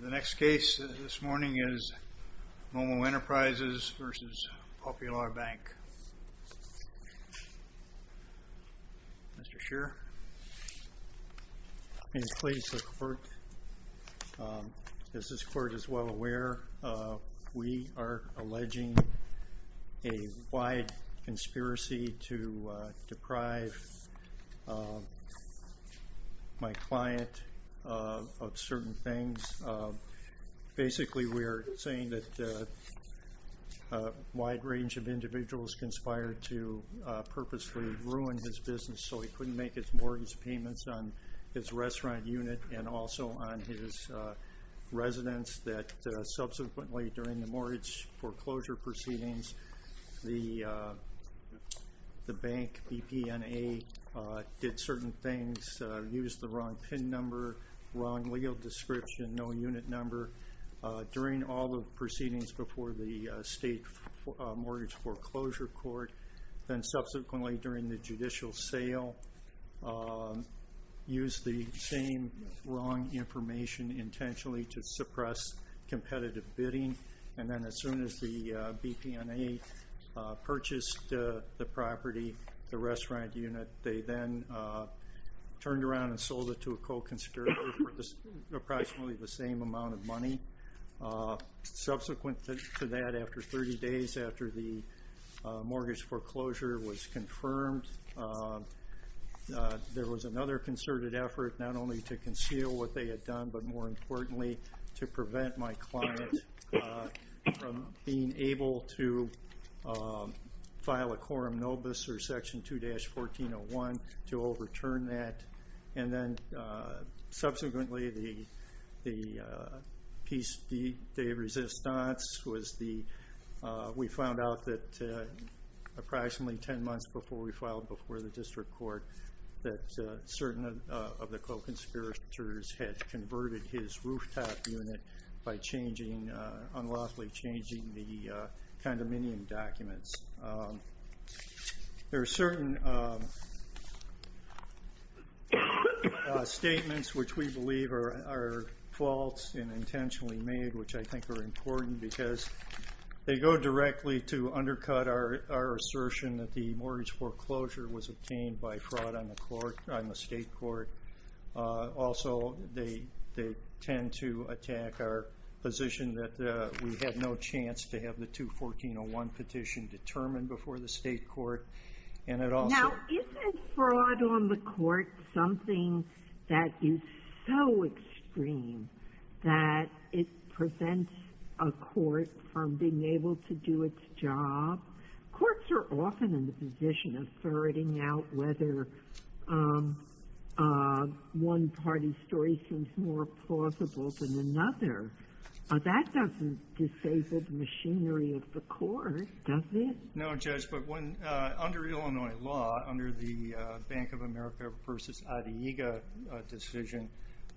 The next case this morning is MoMo Enterprises v. Popular Bank. Mr. Scheer. Please, the court. As this court is well aware, we are alleging a wide conspiracy to deprive my client of certain things. Basically we are saying that a wide range of individuals conspired to purposely ruin his business so he couldn't make his mortgage payments on his restaurant unit and also on his residence that subsequently during the mortgage foreclosure proceedings, the bank, BPNA, did certain things, used the wrong PIN number, wrong legal description, no unit number during all the proceedings before the state mortgage foreclosure court, then subsequently during the judicial sale, used the same wrong information intentionally to suppress competitive bidding and then as soon as the BPNA purchased the property, the restaurant unit, they then turned around and sold it to a co-conspirator for approximately the same amount of money. Subsequent to that, after 30 days after the mortgage foreclosure was confirmed, there was another concerted effort not only to conceal what they had done but more importantly to prevent my client from being able to file a quorum nobis or section 2-1401 to overturn that and then subsequently the piece de resistance was we found out that approximately 10 months before we filed before the district court that certain of the co-conspirators had converted his rooftop unit by unlawfully changing the condominium documents. There are certain statements which we believe are false and intentionally made which I think are important because they go directly to undercut our assertion that the mortgage foreclosure was obtained by fraud on the court, on the state court. Also, they tend to attack our position that we had no chance to have the 2-1401 petition determined before the state court and it also Now, isn't fraud on the court something that is so extreme that it prevents a court from being starting out whether one party's story seems more plausible than another? That doesn't disable the machinery of the court, does it? No, Judge, but under Illinois law, under the Bank of America v. Adyega decision,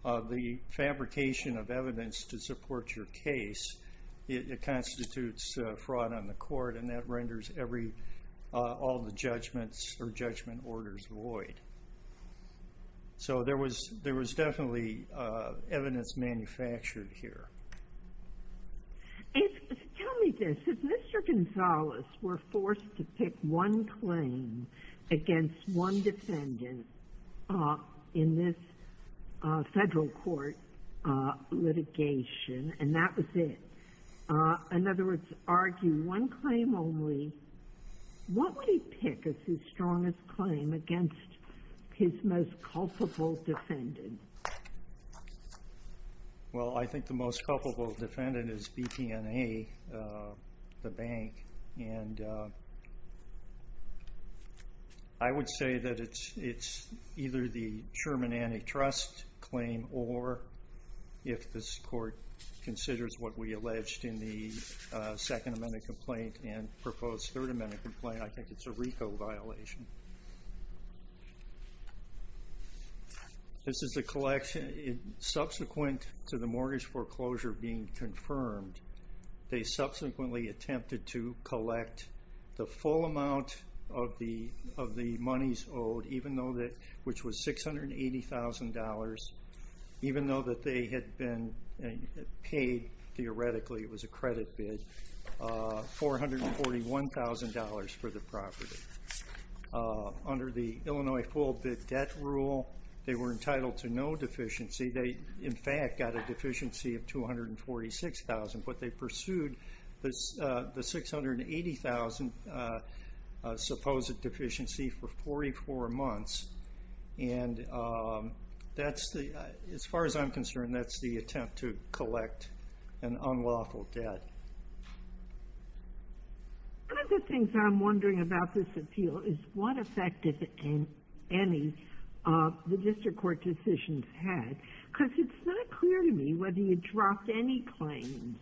the fabrication of evidence to support your case constitutes fraud on the court and that renders all the judgments or judgment orders void. So there was definitely evidence manufactured here. Tell me this, if Mr. Gonzales were forced to pick one claim against one defendant in this federal court litigation and that was it, in other words, argue one claim only, what would he pick as his strongest claim against his most culpable defendant? Well, I think the most culpable defendant is BP&A, the bank, and I would say that it's either the Sherman Antitrust claim or, if this court considers what we alleged in the Second Amendment complaint and proposed Third Amendment complaint, I think it's a RICO violation. This is the collection, subsequent to the mortgage foreclosure being confirmed, they subsequently attempted to collect the full amount of the monies owed, which was $680,000, even though they had been paid, theoretically it was a credit bid, $441,000 for the property. Under the Illinois full-bid debt rule, they were entitled to no deficiency. They, in fact, got a deficiency of $246,000, but they pursued the $680,000 supposed deficiency for 44 months. And that's the, as far as I'm concerned, that's the attempt to collect an unlawful debt. One of the things I'm wondering about this appeal is what effect, if any, the district court decisions had, because it's not clear to me whether you dropped any claims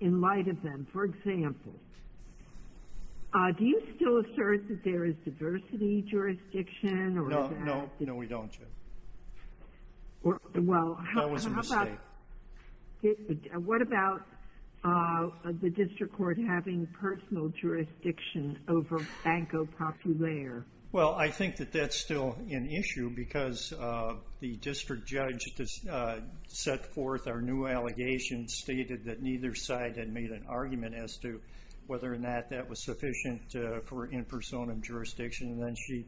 in light of them. For example, do you still assert that there is diversity jurisdiction? No, no, no, we don't. That was a mistake. What about the district court having personal jurisdiction over Banco Popular? Well, I think that that's still an issue because the district judge set forth our new allegation, stated that neither side had made an argument as to whether or not that was sufficient for in personam jurisdiction, and then she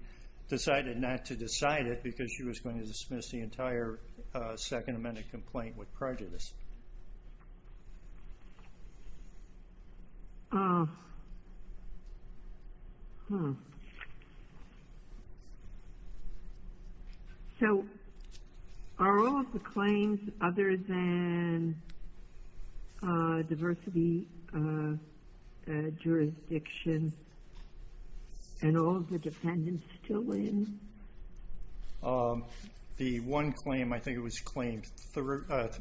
decided not to decide it because she was going to dismiss the entire Second Amendment complaint with prejudice. So are all of the claims other than diversity jurisdiction and all of the dependents still in? The one claim, I think it was claim 30,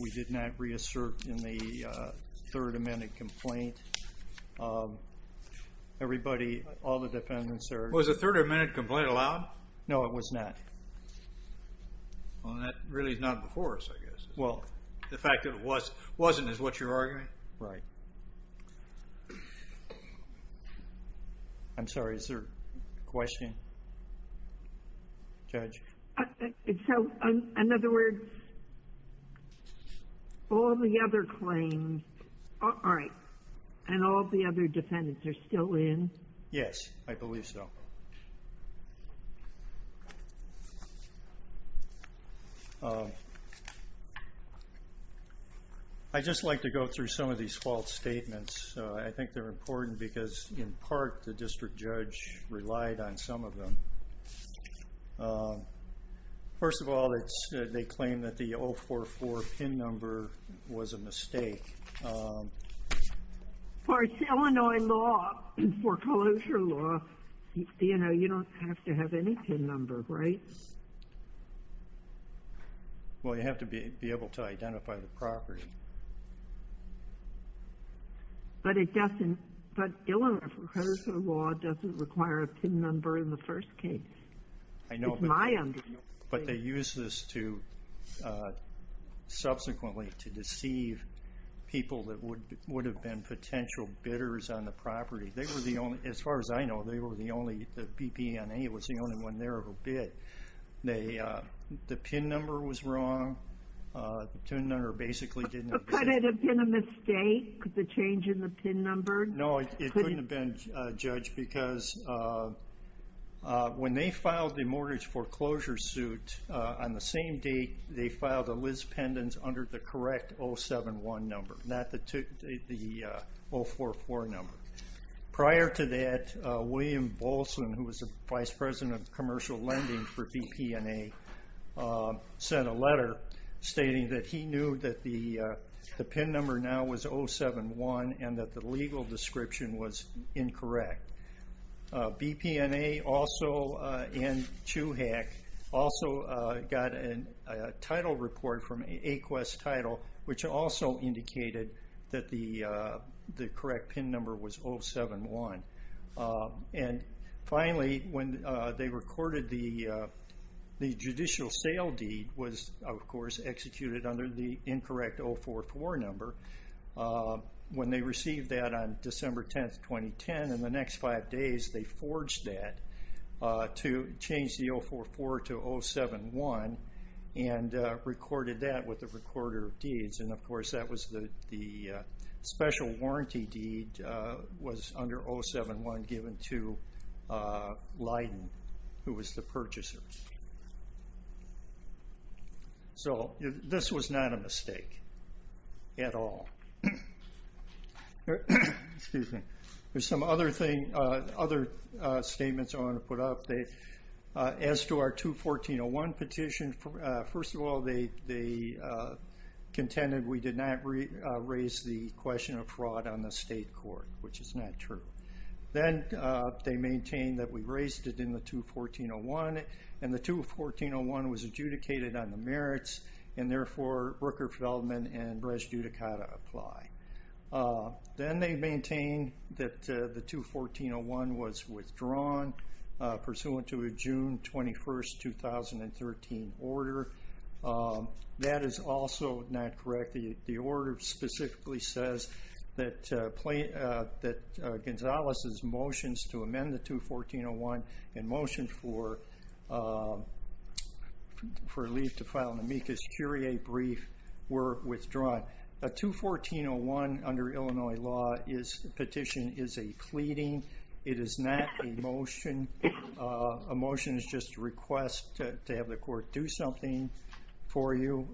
we did not reassert in the Third Amendment complaint. Everybody, all the dependents are... Was the Third Amendment complaint allowed? No, it was not. Well, that really is not before us, I guess. Well, the fact that it wasn't is what you're arguing? Right. I'm sorry, is there a question? Judge? So, in other words, all the other claims aren't, and all the other dependents are still in? Yes, I believe so. I'd just like to go through some of these false statements. I think they're important because, in part, the district judge relied on some of them. First of all, they claim that the 044 pin number was a mistake. For Illinois law, foreclosure law, you know, you don't have to have any pin number, right? Well, you have to be able to identify the property. But Illinois foreclosure law doesn't require a pin number in the first case. I know. It's my understanding. But they use this to, subsequently, to deceive people that would have been potential bidders on the property. They were the only, as far as I know, they were the only, the BPNA was the only one there who bid. The pin number was wrong. The pin number basically didn't... Could it have been a mistake, the change in the pin number? No, it couldn't have been, Judge, because when they filed the mortgage foreclosure suit on the same date, they filed a Liz Pendens under the correct 071 number, not the 044 number. Prior to that, William Bolson, who was the Vice President of Commercial Lending for BPNA, sent a letter stating that he knew that the pin number now was 071 and that the legal description was incorrect. BPNA also, and CHUHAC, also got a title report from AQUEST Title, which also indicated that the correct pin number was 071. And finally, when they recorded the judicial sale deed was, of course, executed under the incorrect 044 number. When they received that on December 10th, 2010, in the next five days, they forged that to change the 044 to 071 and recorded that with the recorder of deeds. And, of course, that was the special warranty deed was under 071 given to Leiden, who was the purchaser. So this was not a mistake at all. There's some other statements I wanna put up. As to our 214.01 petition, first of all, they contended we did not raise the question of fraud on the state court, which is not true. Then they maintained that we raised it in the 214.01, and the 214.01 was adjudicated on the merits, and therefore, Brooker Feldman and Brezhd Yudhikata apply. Then they maintained that the 214.01 was withdrawn pursuant to a June 21st, 2013, order. That is also not correct. The order specifically says that Gonzales' motions to amend the 214.01 in motion for a leave to file an amicus curiae brief were withdrawn. A 214.01 under Illinois law petition is a pleading. It is not a motion. A motion is just a request to have the court do something for you.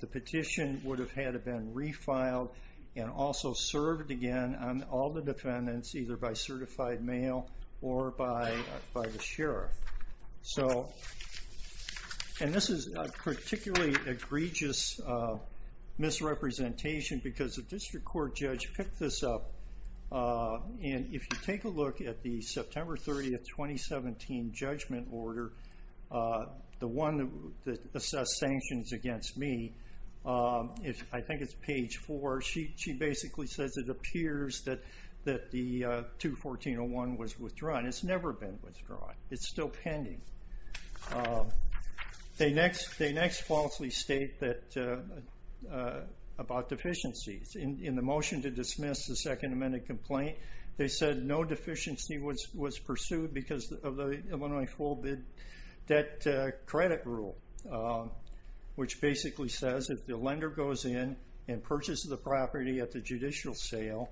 The petition would have had it been refiled and also served again on all the defendants, either by certified mail or by the sheriff. So, and this is a particularly egregious misrepresentation because the district court judge picked this up, and if you take a look at the September 30th, 2017 judgment order, the one that assessed sanctions against me, I think it's page four, she basically says it appears that the 214.01 was withdrawn. It's never been withdrawn. It's still pending. They next falsely state about deficiencies. In the motion to dismiss the second amended complaint, they said no deficiency was pursued because of the Illinois full bid debt credit rule, which basically says if the lender goes in and purchases the property at the judicial sale,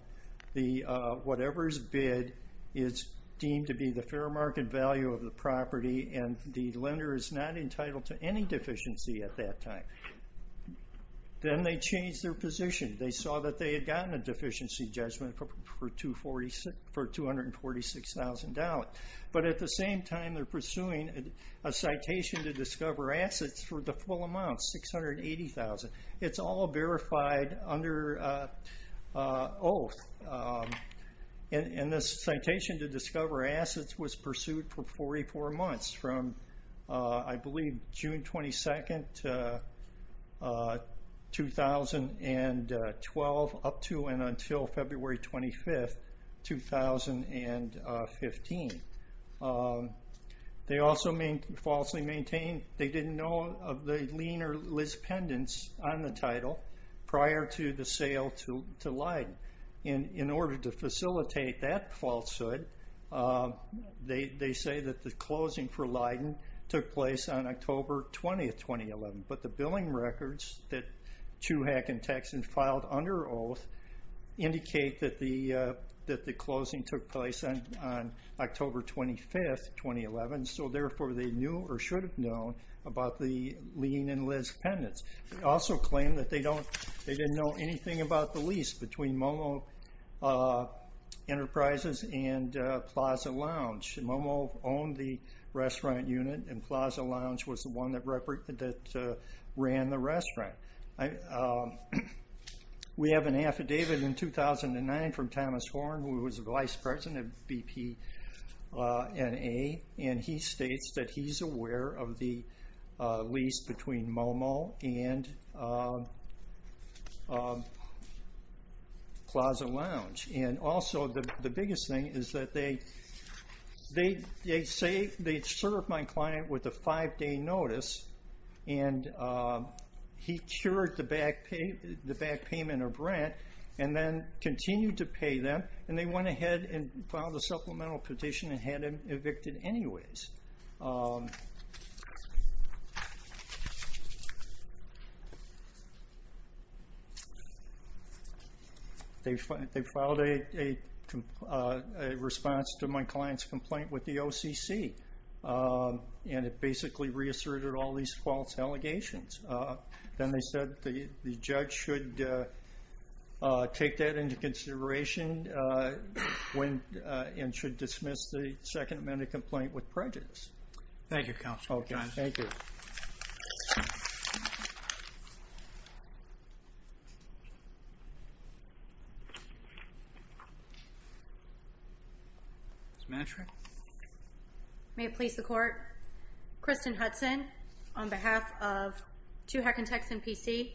whatever's bid is deemed to be the fair market value of the property, and the lender is not entitled to any deficiency at that time. Then they changed their position. They saw that they had gotten a deficiency judgment for $246,000. But at the same time, they're pursuing a citation to discover assets for the full amount, $680,000. It's all verified under oath. And this citation to discover assets was pursued for 44 months from, I believe, June 22nd, 2012, up to and until February 25th, 2015. They also falsely maintain they didn't know of the lien or lis pendants on the title prior to the sale to Leiden. In order to facilitate that falsehood, they say that the closing for Leiden took place on October 20th, 2011. But the billing records that Chuhack and Texan filed under oath indicate that the closing took place on October 25th, 2011, so therefore they knew or should have known about the lien and lis pendants. They also claim that they didn't know anything about the lease between Momo Enterprises and Plaza Lounge. Momo owned the restaurant unit, and Plaza Lounge was the one that ran the restaurant. We have an affidavit in 2009 from Thomas Horne, who was the vice president of BPNA, and he states that he's aware of the lease between Momo and Plaza Lounge. And also, the biggest thing is that they served my client with a five-day notice, and he cured the back payment of rent and then continued to pay them, and they went ahead and filed a supplemental petition and had him evicted anyways. They filed a response to my client's complaint with the OCC, and it basically reasserted all these false allegations. Then they said the judge should take that into consideration and should dismiss the Second Amendment complaint with prejudice. Thank you, Counselor Johnson. Okay, thank you. Ms. Matrick? May it please the Court? Kristen Hudson on behalf of Two Hecantechs, N.P.C.,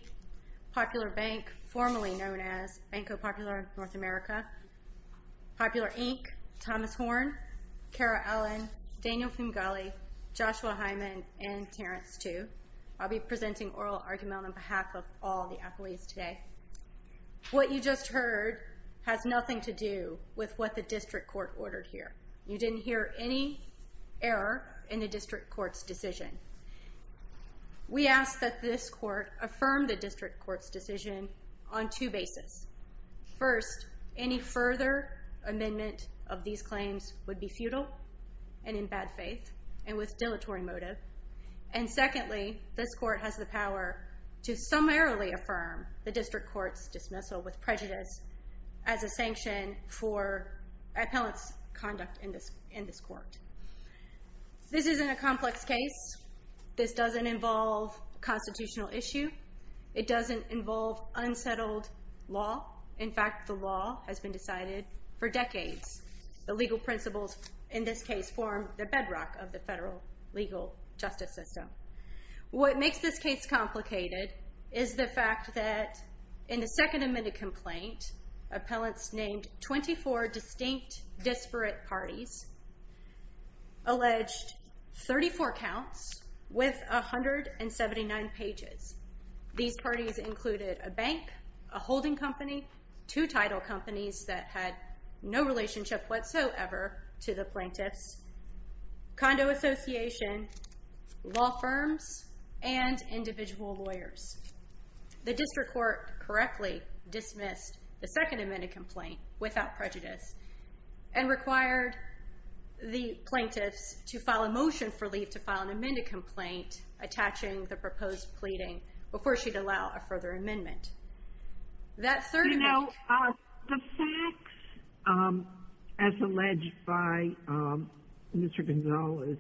Popular Bank, formerly known as Banco Popular North America, Popular Inc., Thomas Horne, Cara Allen, Daniel Fungali, Joshua Hyman, and Terrence Tu. I'll be presenting oral argument on behalf of all the appellees today. What you just heard has nothing to do with what the district court ordered here. You didn't hear any error in the district court's decision. We ask that this court affirm the district court's decision on two bases. First, any further amendment of these claims would be futile and in bad faith and with dilatory motive. And secondly, this court has the power to summarily affirm the district court's dismissal with prejudice as a sanction for appellant's conduct in this court. This isn't a complex case. This doesn't involve a constitutional issue. It doesn't involve unsettled law. In fact, the law has been decided for decades. The legal principles in this case form the bedrock of the federal legal justice system. What makes this case complicated is the fact that in the second amended complaint, appellants named 24 distinct disparate parties alleged 34 counts with 179 pages. These parties included a bank, a holding company, two title companies that had no relationship whatsoever to the plaintiffs, condo association, law firms, and individual lawyers. The district court correctly dismissed the second amended complaint without prejudice and required the plaintiffs to file a motion for leave to file an amended complaint attaching the proposed pleading before she'd allow a further amendment. You know, the facts, as alleged by Mr. Gonzales,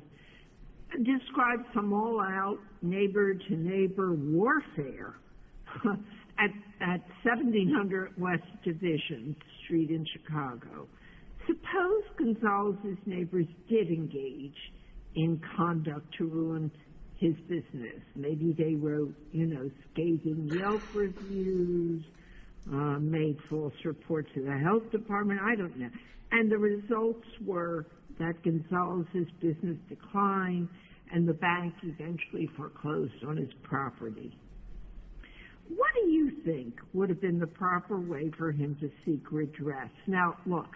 describe some all-out neighbor-to-neighbor warfare at 1700 West Division Street in Chicago. Suppose Gonzales' neighbors did engage in conduct to ruin his business. Maybe they wrote scathing Yelp reviews, made false reports to the health department. I don't know. And the results were that Gonzales' business declined and the bank eventually foreclosed on his property. What do you think would have been the proper way for him to seek redress? Now, look,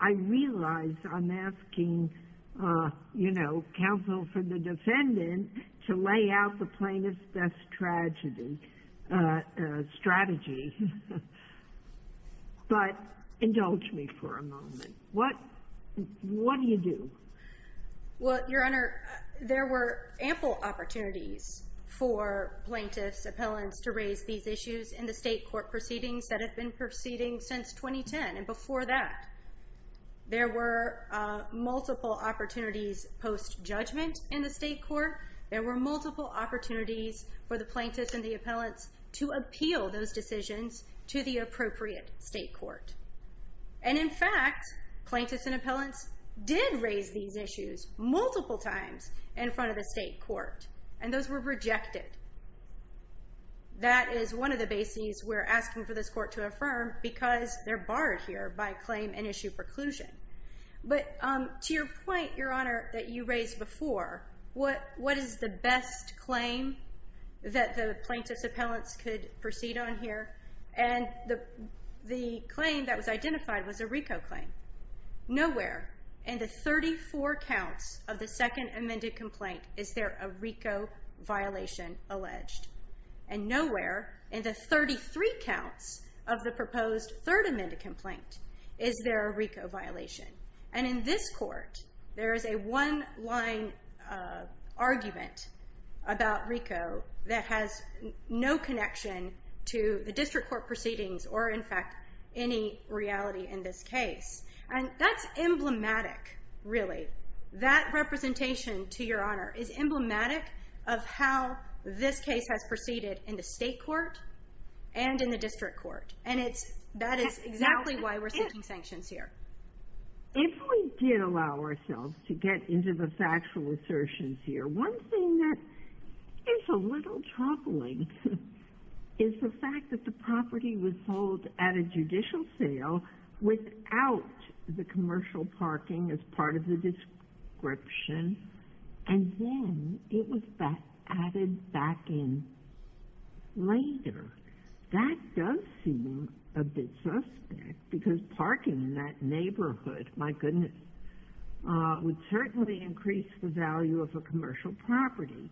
I realize I'm asking, you know, counsel for the defendant to lay out the plaintiff's best tragedy, strategy. But indulge me for a moment. What do you do? Well, Your Honor, there were ample opportunities for plaintiffs, appellants to raise these issues in the state court proceedings that have been proceeding since 2010. And before that, there were multiple opportunities post-judgment in the state court. There were multiple opportunities for the plaintiffs and the appellants to appeal those decisions to the appropriate state court. And in fact, plaintiffs and appellants did raise these issues multiple times in front of the state court. And those were rejected. That is one of the bases we're asking for this court to affirm because they're barred here by claim and issue preclusion. But to your point, Your Honor, that you raised before, what is the best claim that the plaintiffs and appellants could proceed on here? And the claim that was identified was a RICO claim. Nowhere in the 34 counts of the second amended complaint is there a RICO violation alleged. And nowhere in the 33 counts of the proposed third amended complaint is there a RICO violation. And in this court, there is a one-line argument about RICO that has no connection to the district court proceedings or, in fact, any reality in this case. And that's emblematic, really. That representation, to Your Honor, is emblematic of how this case has proceeded in the state court and in the district court. And that is exactly why we're seeking sanctions here. If we did allow ourselves to get into the factual assertions here, one thing that is a little troubling is the fact that the property was sold at a judicial sale without the commercial parking as part of the description, and then it was added back in later. That does seem a bit suspect because parking in that neighborhood, my goodness, would certainly increase the value of a commercial property.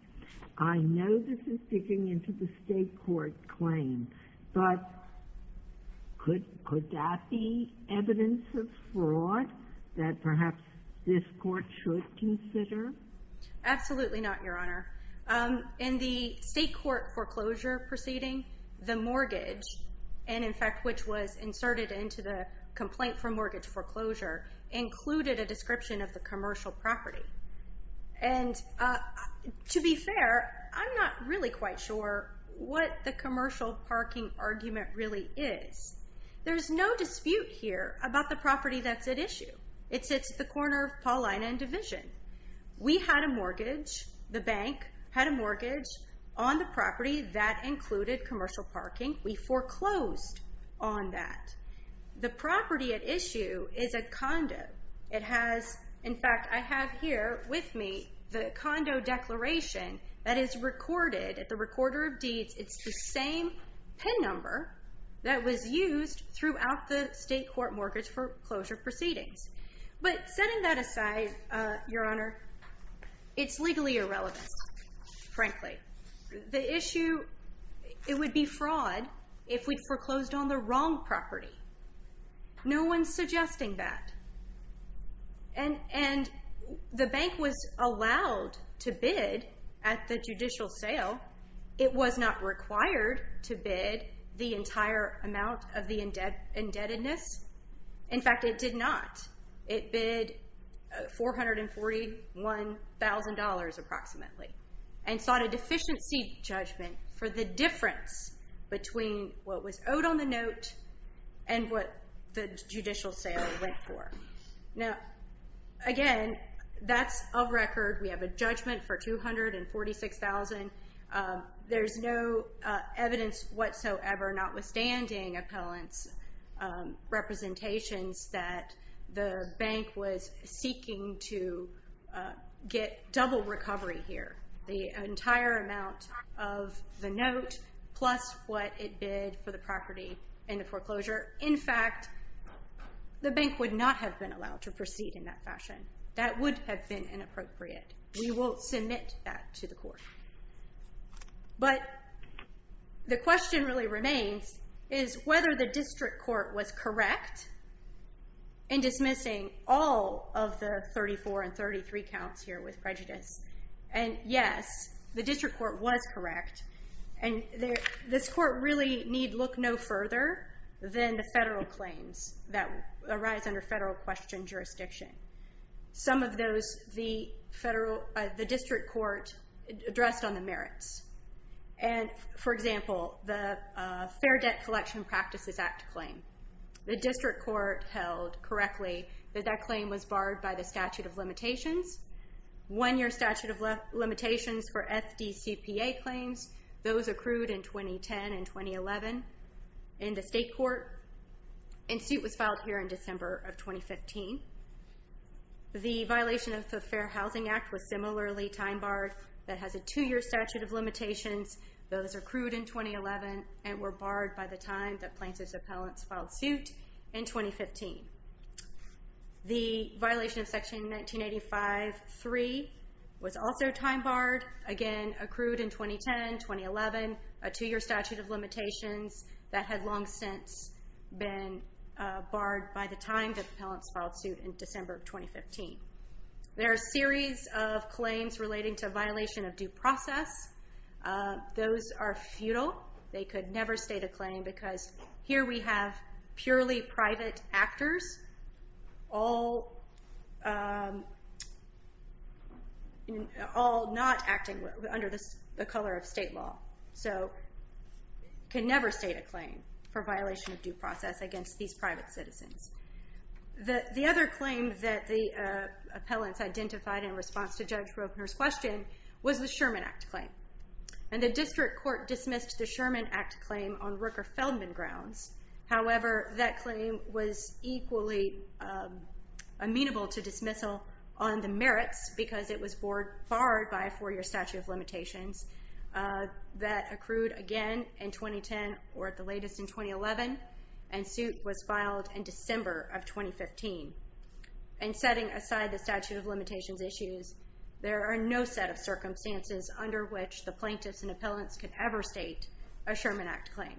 I know this is digging into the state court claim, but could that be evidence of fraud that perhaps this court should consider? Absolutely not, Your Honor. In the state court foreclosure proceeding, the mortgage, and in fact, which was inserted into the complaint for mortgage foreclosure, included a description of the commercial property. And to be fair, I'm not really quite sure what the commercial parking argument really is. There's no dispute here about the property that's at issue. It sits at the corner of Paulina and Division. We had a mortgage. The bank had a mortgage on the property. That included commercial parking. We foreclosed on that. The property at issue is a condo. In fact, I have here with me the condo declaration that is recorded at the recorder of deeds. It's the same PIN number that was used throughout the state court mortgage foreclosure proceedings. But setting that aside, Your Honor, it's legally irrelevant, frankly. The issue, it would be fraud if we foreclosed on the wrong property. No one's suggesting that. And the bank was allowed to bid at the judicial sale. It was not required to bid the entire amount of the indebtedness. In fact, it did not. It bid $441,000 approximately and sought a deficiency judgment for the difference between what was owed on the note and what the judicial sale went for. Now, again, that's of record. We have a judgment for $246,000. There's no evidence whatsoever, notwithstanding appellant's representations, that the bank was seeking to get double recovery here. The entire amount of the note plus what it bid for the property and the foreclosure. In fact, the bank would not have been allowed to proceed in that fashion. That would have been inappropriate. We will submit that to the court. But the question really remains is whether the district court was correct in dismissing all of the 34 and 33 counts here with prejudice. And, yes, the district court was correct. And this court really need look no further than the federal claims that arise under federal question jurisdiction. Some of those the district court addressed on the merits. And, for example, the Fair Debt Collection Practices Act claim. The district court held correctly that that claim was barred by the statute of limitations. One-year statute of limitations for FDCPA claims. Those accrued in 2010 and 2011 in the state court. And suit was filed here in December of 2015. The violation of the Fair Housing Act was similarly time-barred. That has a two-year statute of limitations. Those accrued in 2011 and were barred by the time that Plaintiff's appellants filed suit in 2015. The violation of Section 1985-3 was also time-barred. Again, accrued in 2010, 2011. A two-year statute of limitations that had long since been barred by the time that the appellants filed suit in December of 2015. There are a series of claims relating to violation of due process. Those are futile. They could never state a claim because here we have purely private actors all not acting under the color of state law. So can never state a claim for violation of due process against these private citizens. The other claim that the appellants identified in response to Judge Roebner's question was the Sherman Act claim. And the district court dismissed the Sherman Act claim on Rooker-Feldman grounds. However, that claim was equally amenable to dismissal on the merits because it was barred by a four-year statute of limitations that accrued again in 2010 or at the latest in 2011. And suit was filed in December of 2015. And setting aside the statute of limitations issues, there are no set of circumstances under which the plaintiffs and appellants could ever state a Sherman Act claim.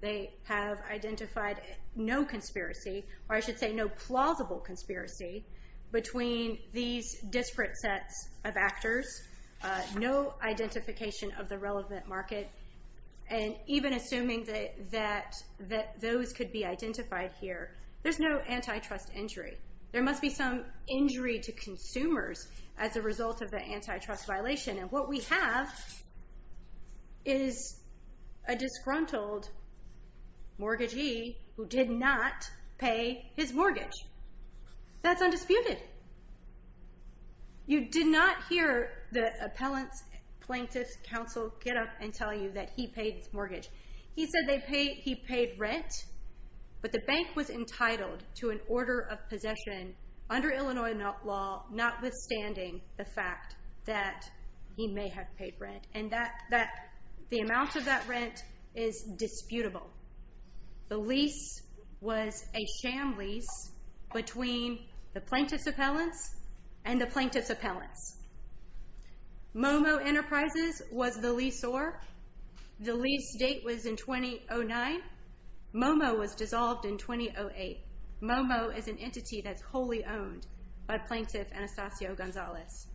They have identified no conspiracy, or I should say no plausible conspiracy, between these disparate sets of actors, no identification of the relevant market. And even assuming that those could be identified here, there's no antitrust injury. There must be some injury to consumers as a result of the antitrust violation. And what we have is a disgruntled mortgagee who did not pay his mortgage. That's undisputed. You did not hear the appellant's plaintiff's counsel get up and tell you that he paid his mortgage. He said he paid rent, but the bank was entitled to an order of possession under Illinois law, notwithstanding the fact that he may have paid rent. And the amount of that rent is disputable. The lease was a sham lease between the plaintiff's appellants and the plaintiff's appellants. Momo Enterprises was the leaseor. The lease date was in 2009. Momo was dissolved in 2008. Momo is an entity that's wholly owned by Plaintiff Anastasio Gonzalez.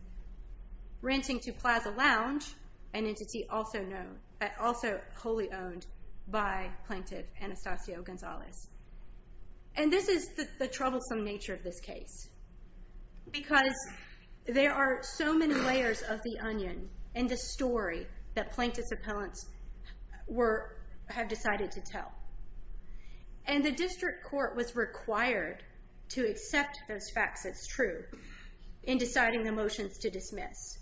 Renting to Plaza Lounge, an entity also wholly owned by Plaintiff Anastasio Gonzalez. And this is the troublesome nature of this case because there are so many layers of the onion in the story that plaintiff's appellants have decided to tell. And the district court was required to accept those facts as true in deciding the motions to dismiss.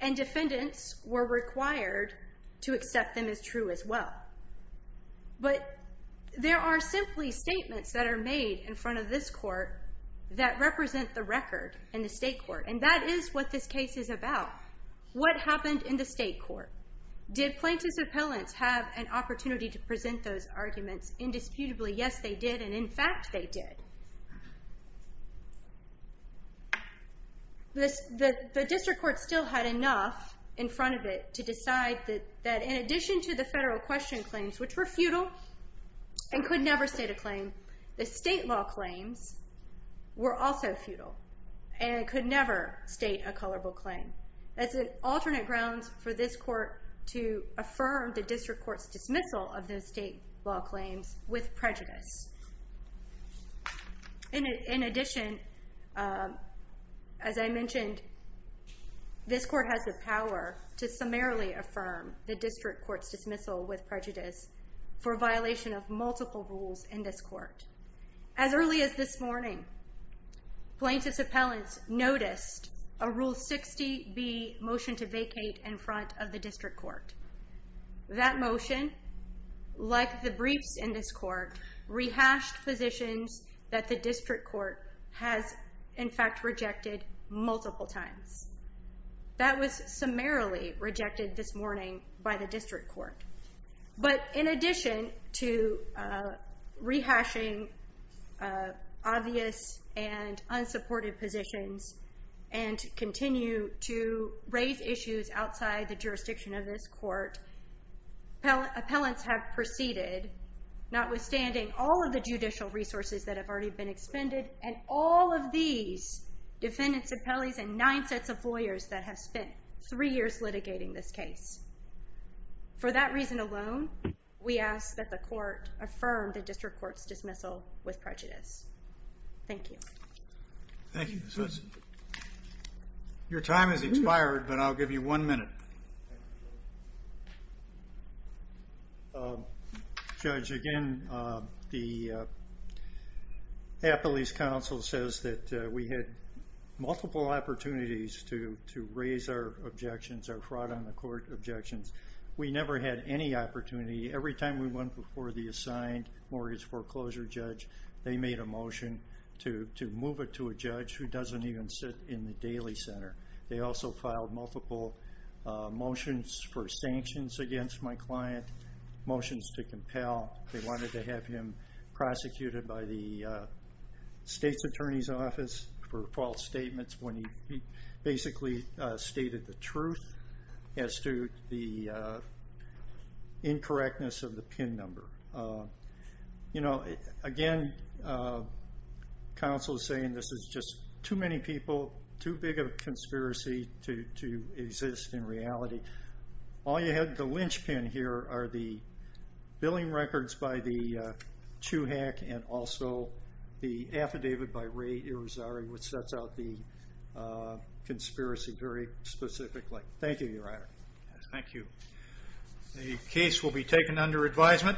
And defendants were required to accept them as true as well. But there are simply statements that are made in front of this court that represent the record in the state court. And that is what this case is about. What happened in the state court? Did plaintiff's appellants have an opportunity to present those arguments indisputably? Yes they did, and in fact they did. The district court still had enough in front of it to decide that in addition to the federal question claims which were futile and could never state a claim, the state law claims were also futile and could never state a colorable claim. That's an alternate ground for this court to affirm the district court's dismissal of those state law claims with prejudice. In addition, as I mentioned, this court has the power to summarily affirm the district court's dismissal with prejudice for violation of multiple rules in this court. As early as this morning, plaintiff's appellants noticed a Rule 60B motion to vacate in front of the district court. That motion, like the briefs in this court, rehashed positions that the district court has in fact rejected multiple times. That was summarily rejected this morning by the district court. But in addition to rehashing obvious and unsupported positions and continue to raise issues outside the jurisdiction of this court, appellants have proceeded, notwithstanding all of the judicial resources that have already been expended, and all of these defendants, appellees, and nine sets of lawyers that have spent three years litigating this case. For that reason alone, we ask that the court affirm the district court's dismissal with prejudice. Thank you. Thank you. Your time has expired, but I'll give you one minute. Judge, again, the appellee's counsel says that we had multiple opportunities to raise our objections, our fraud on the court objections. We never had any opportunity. Every time we went before the assigned mortgage foreclosure judge, they made a motion to move it to a judge who doesn't even sit in the daily center. They also filed multiple motions for sanctions against my client, motions to compel. They wanted to have him prosecuted by the state's attorney's office for false statements when he basically stated the truth as to the incorrectness of the PIN number. Again, counsel is saying this is just too many people, too big of a conspiracy to exist in reality. All you have, the lynch pin here, are the billing records by the Chuhack and also the affidavit by Ray Irizarry, which sets out the conspiracy very specifically. Thank you, Your Honor. Thank you. The case will be taken under advisement.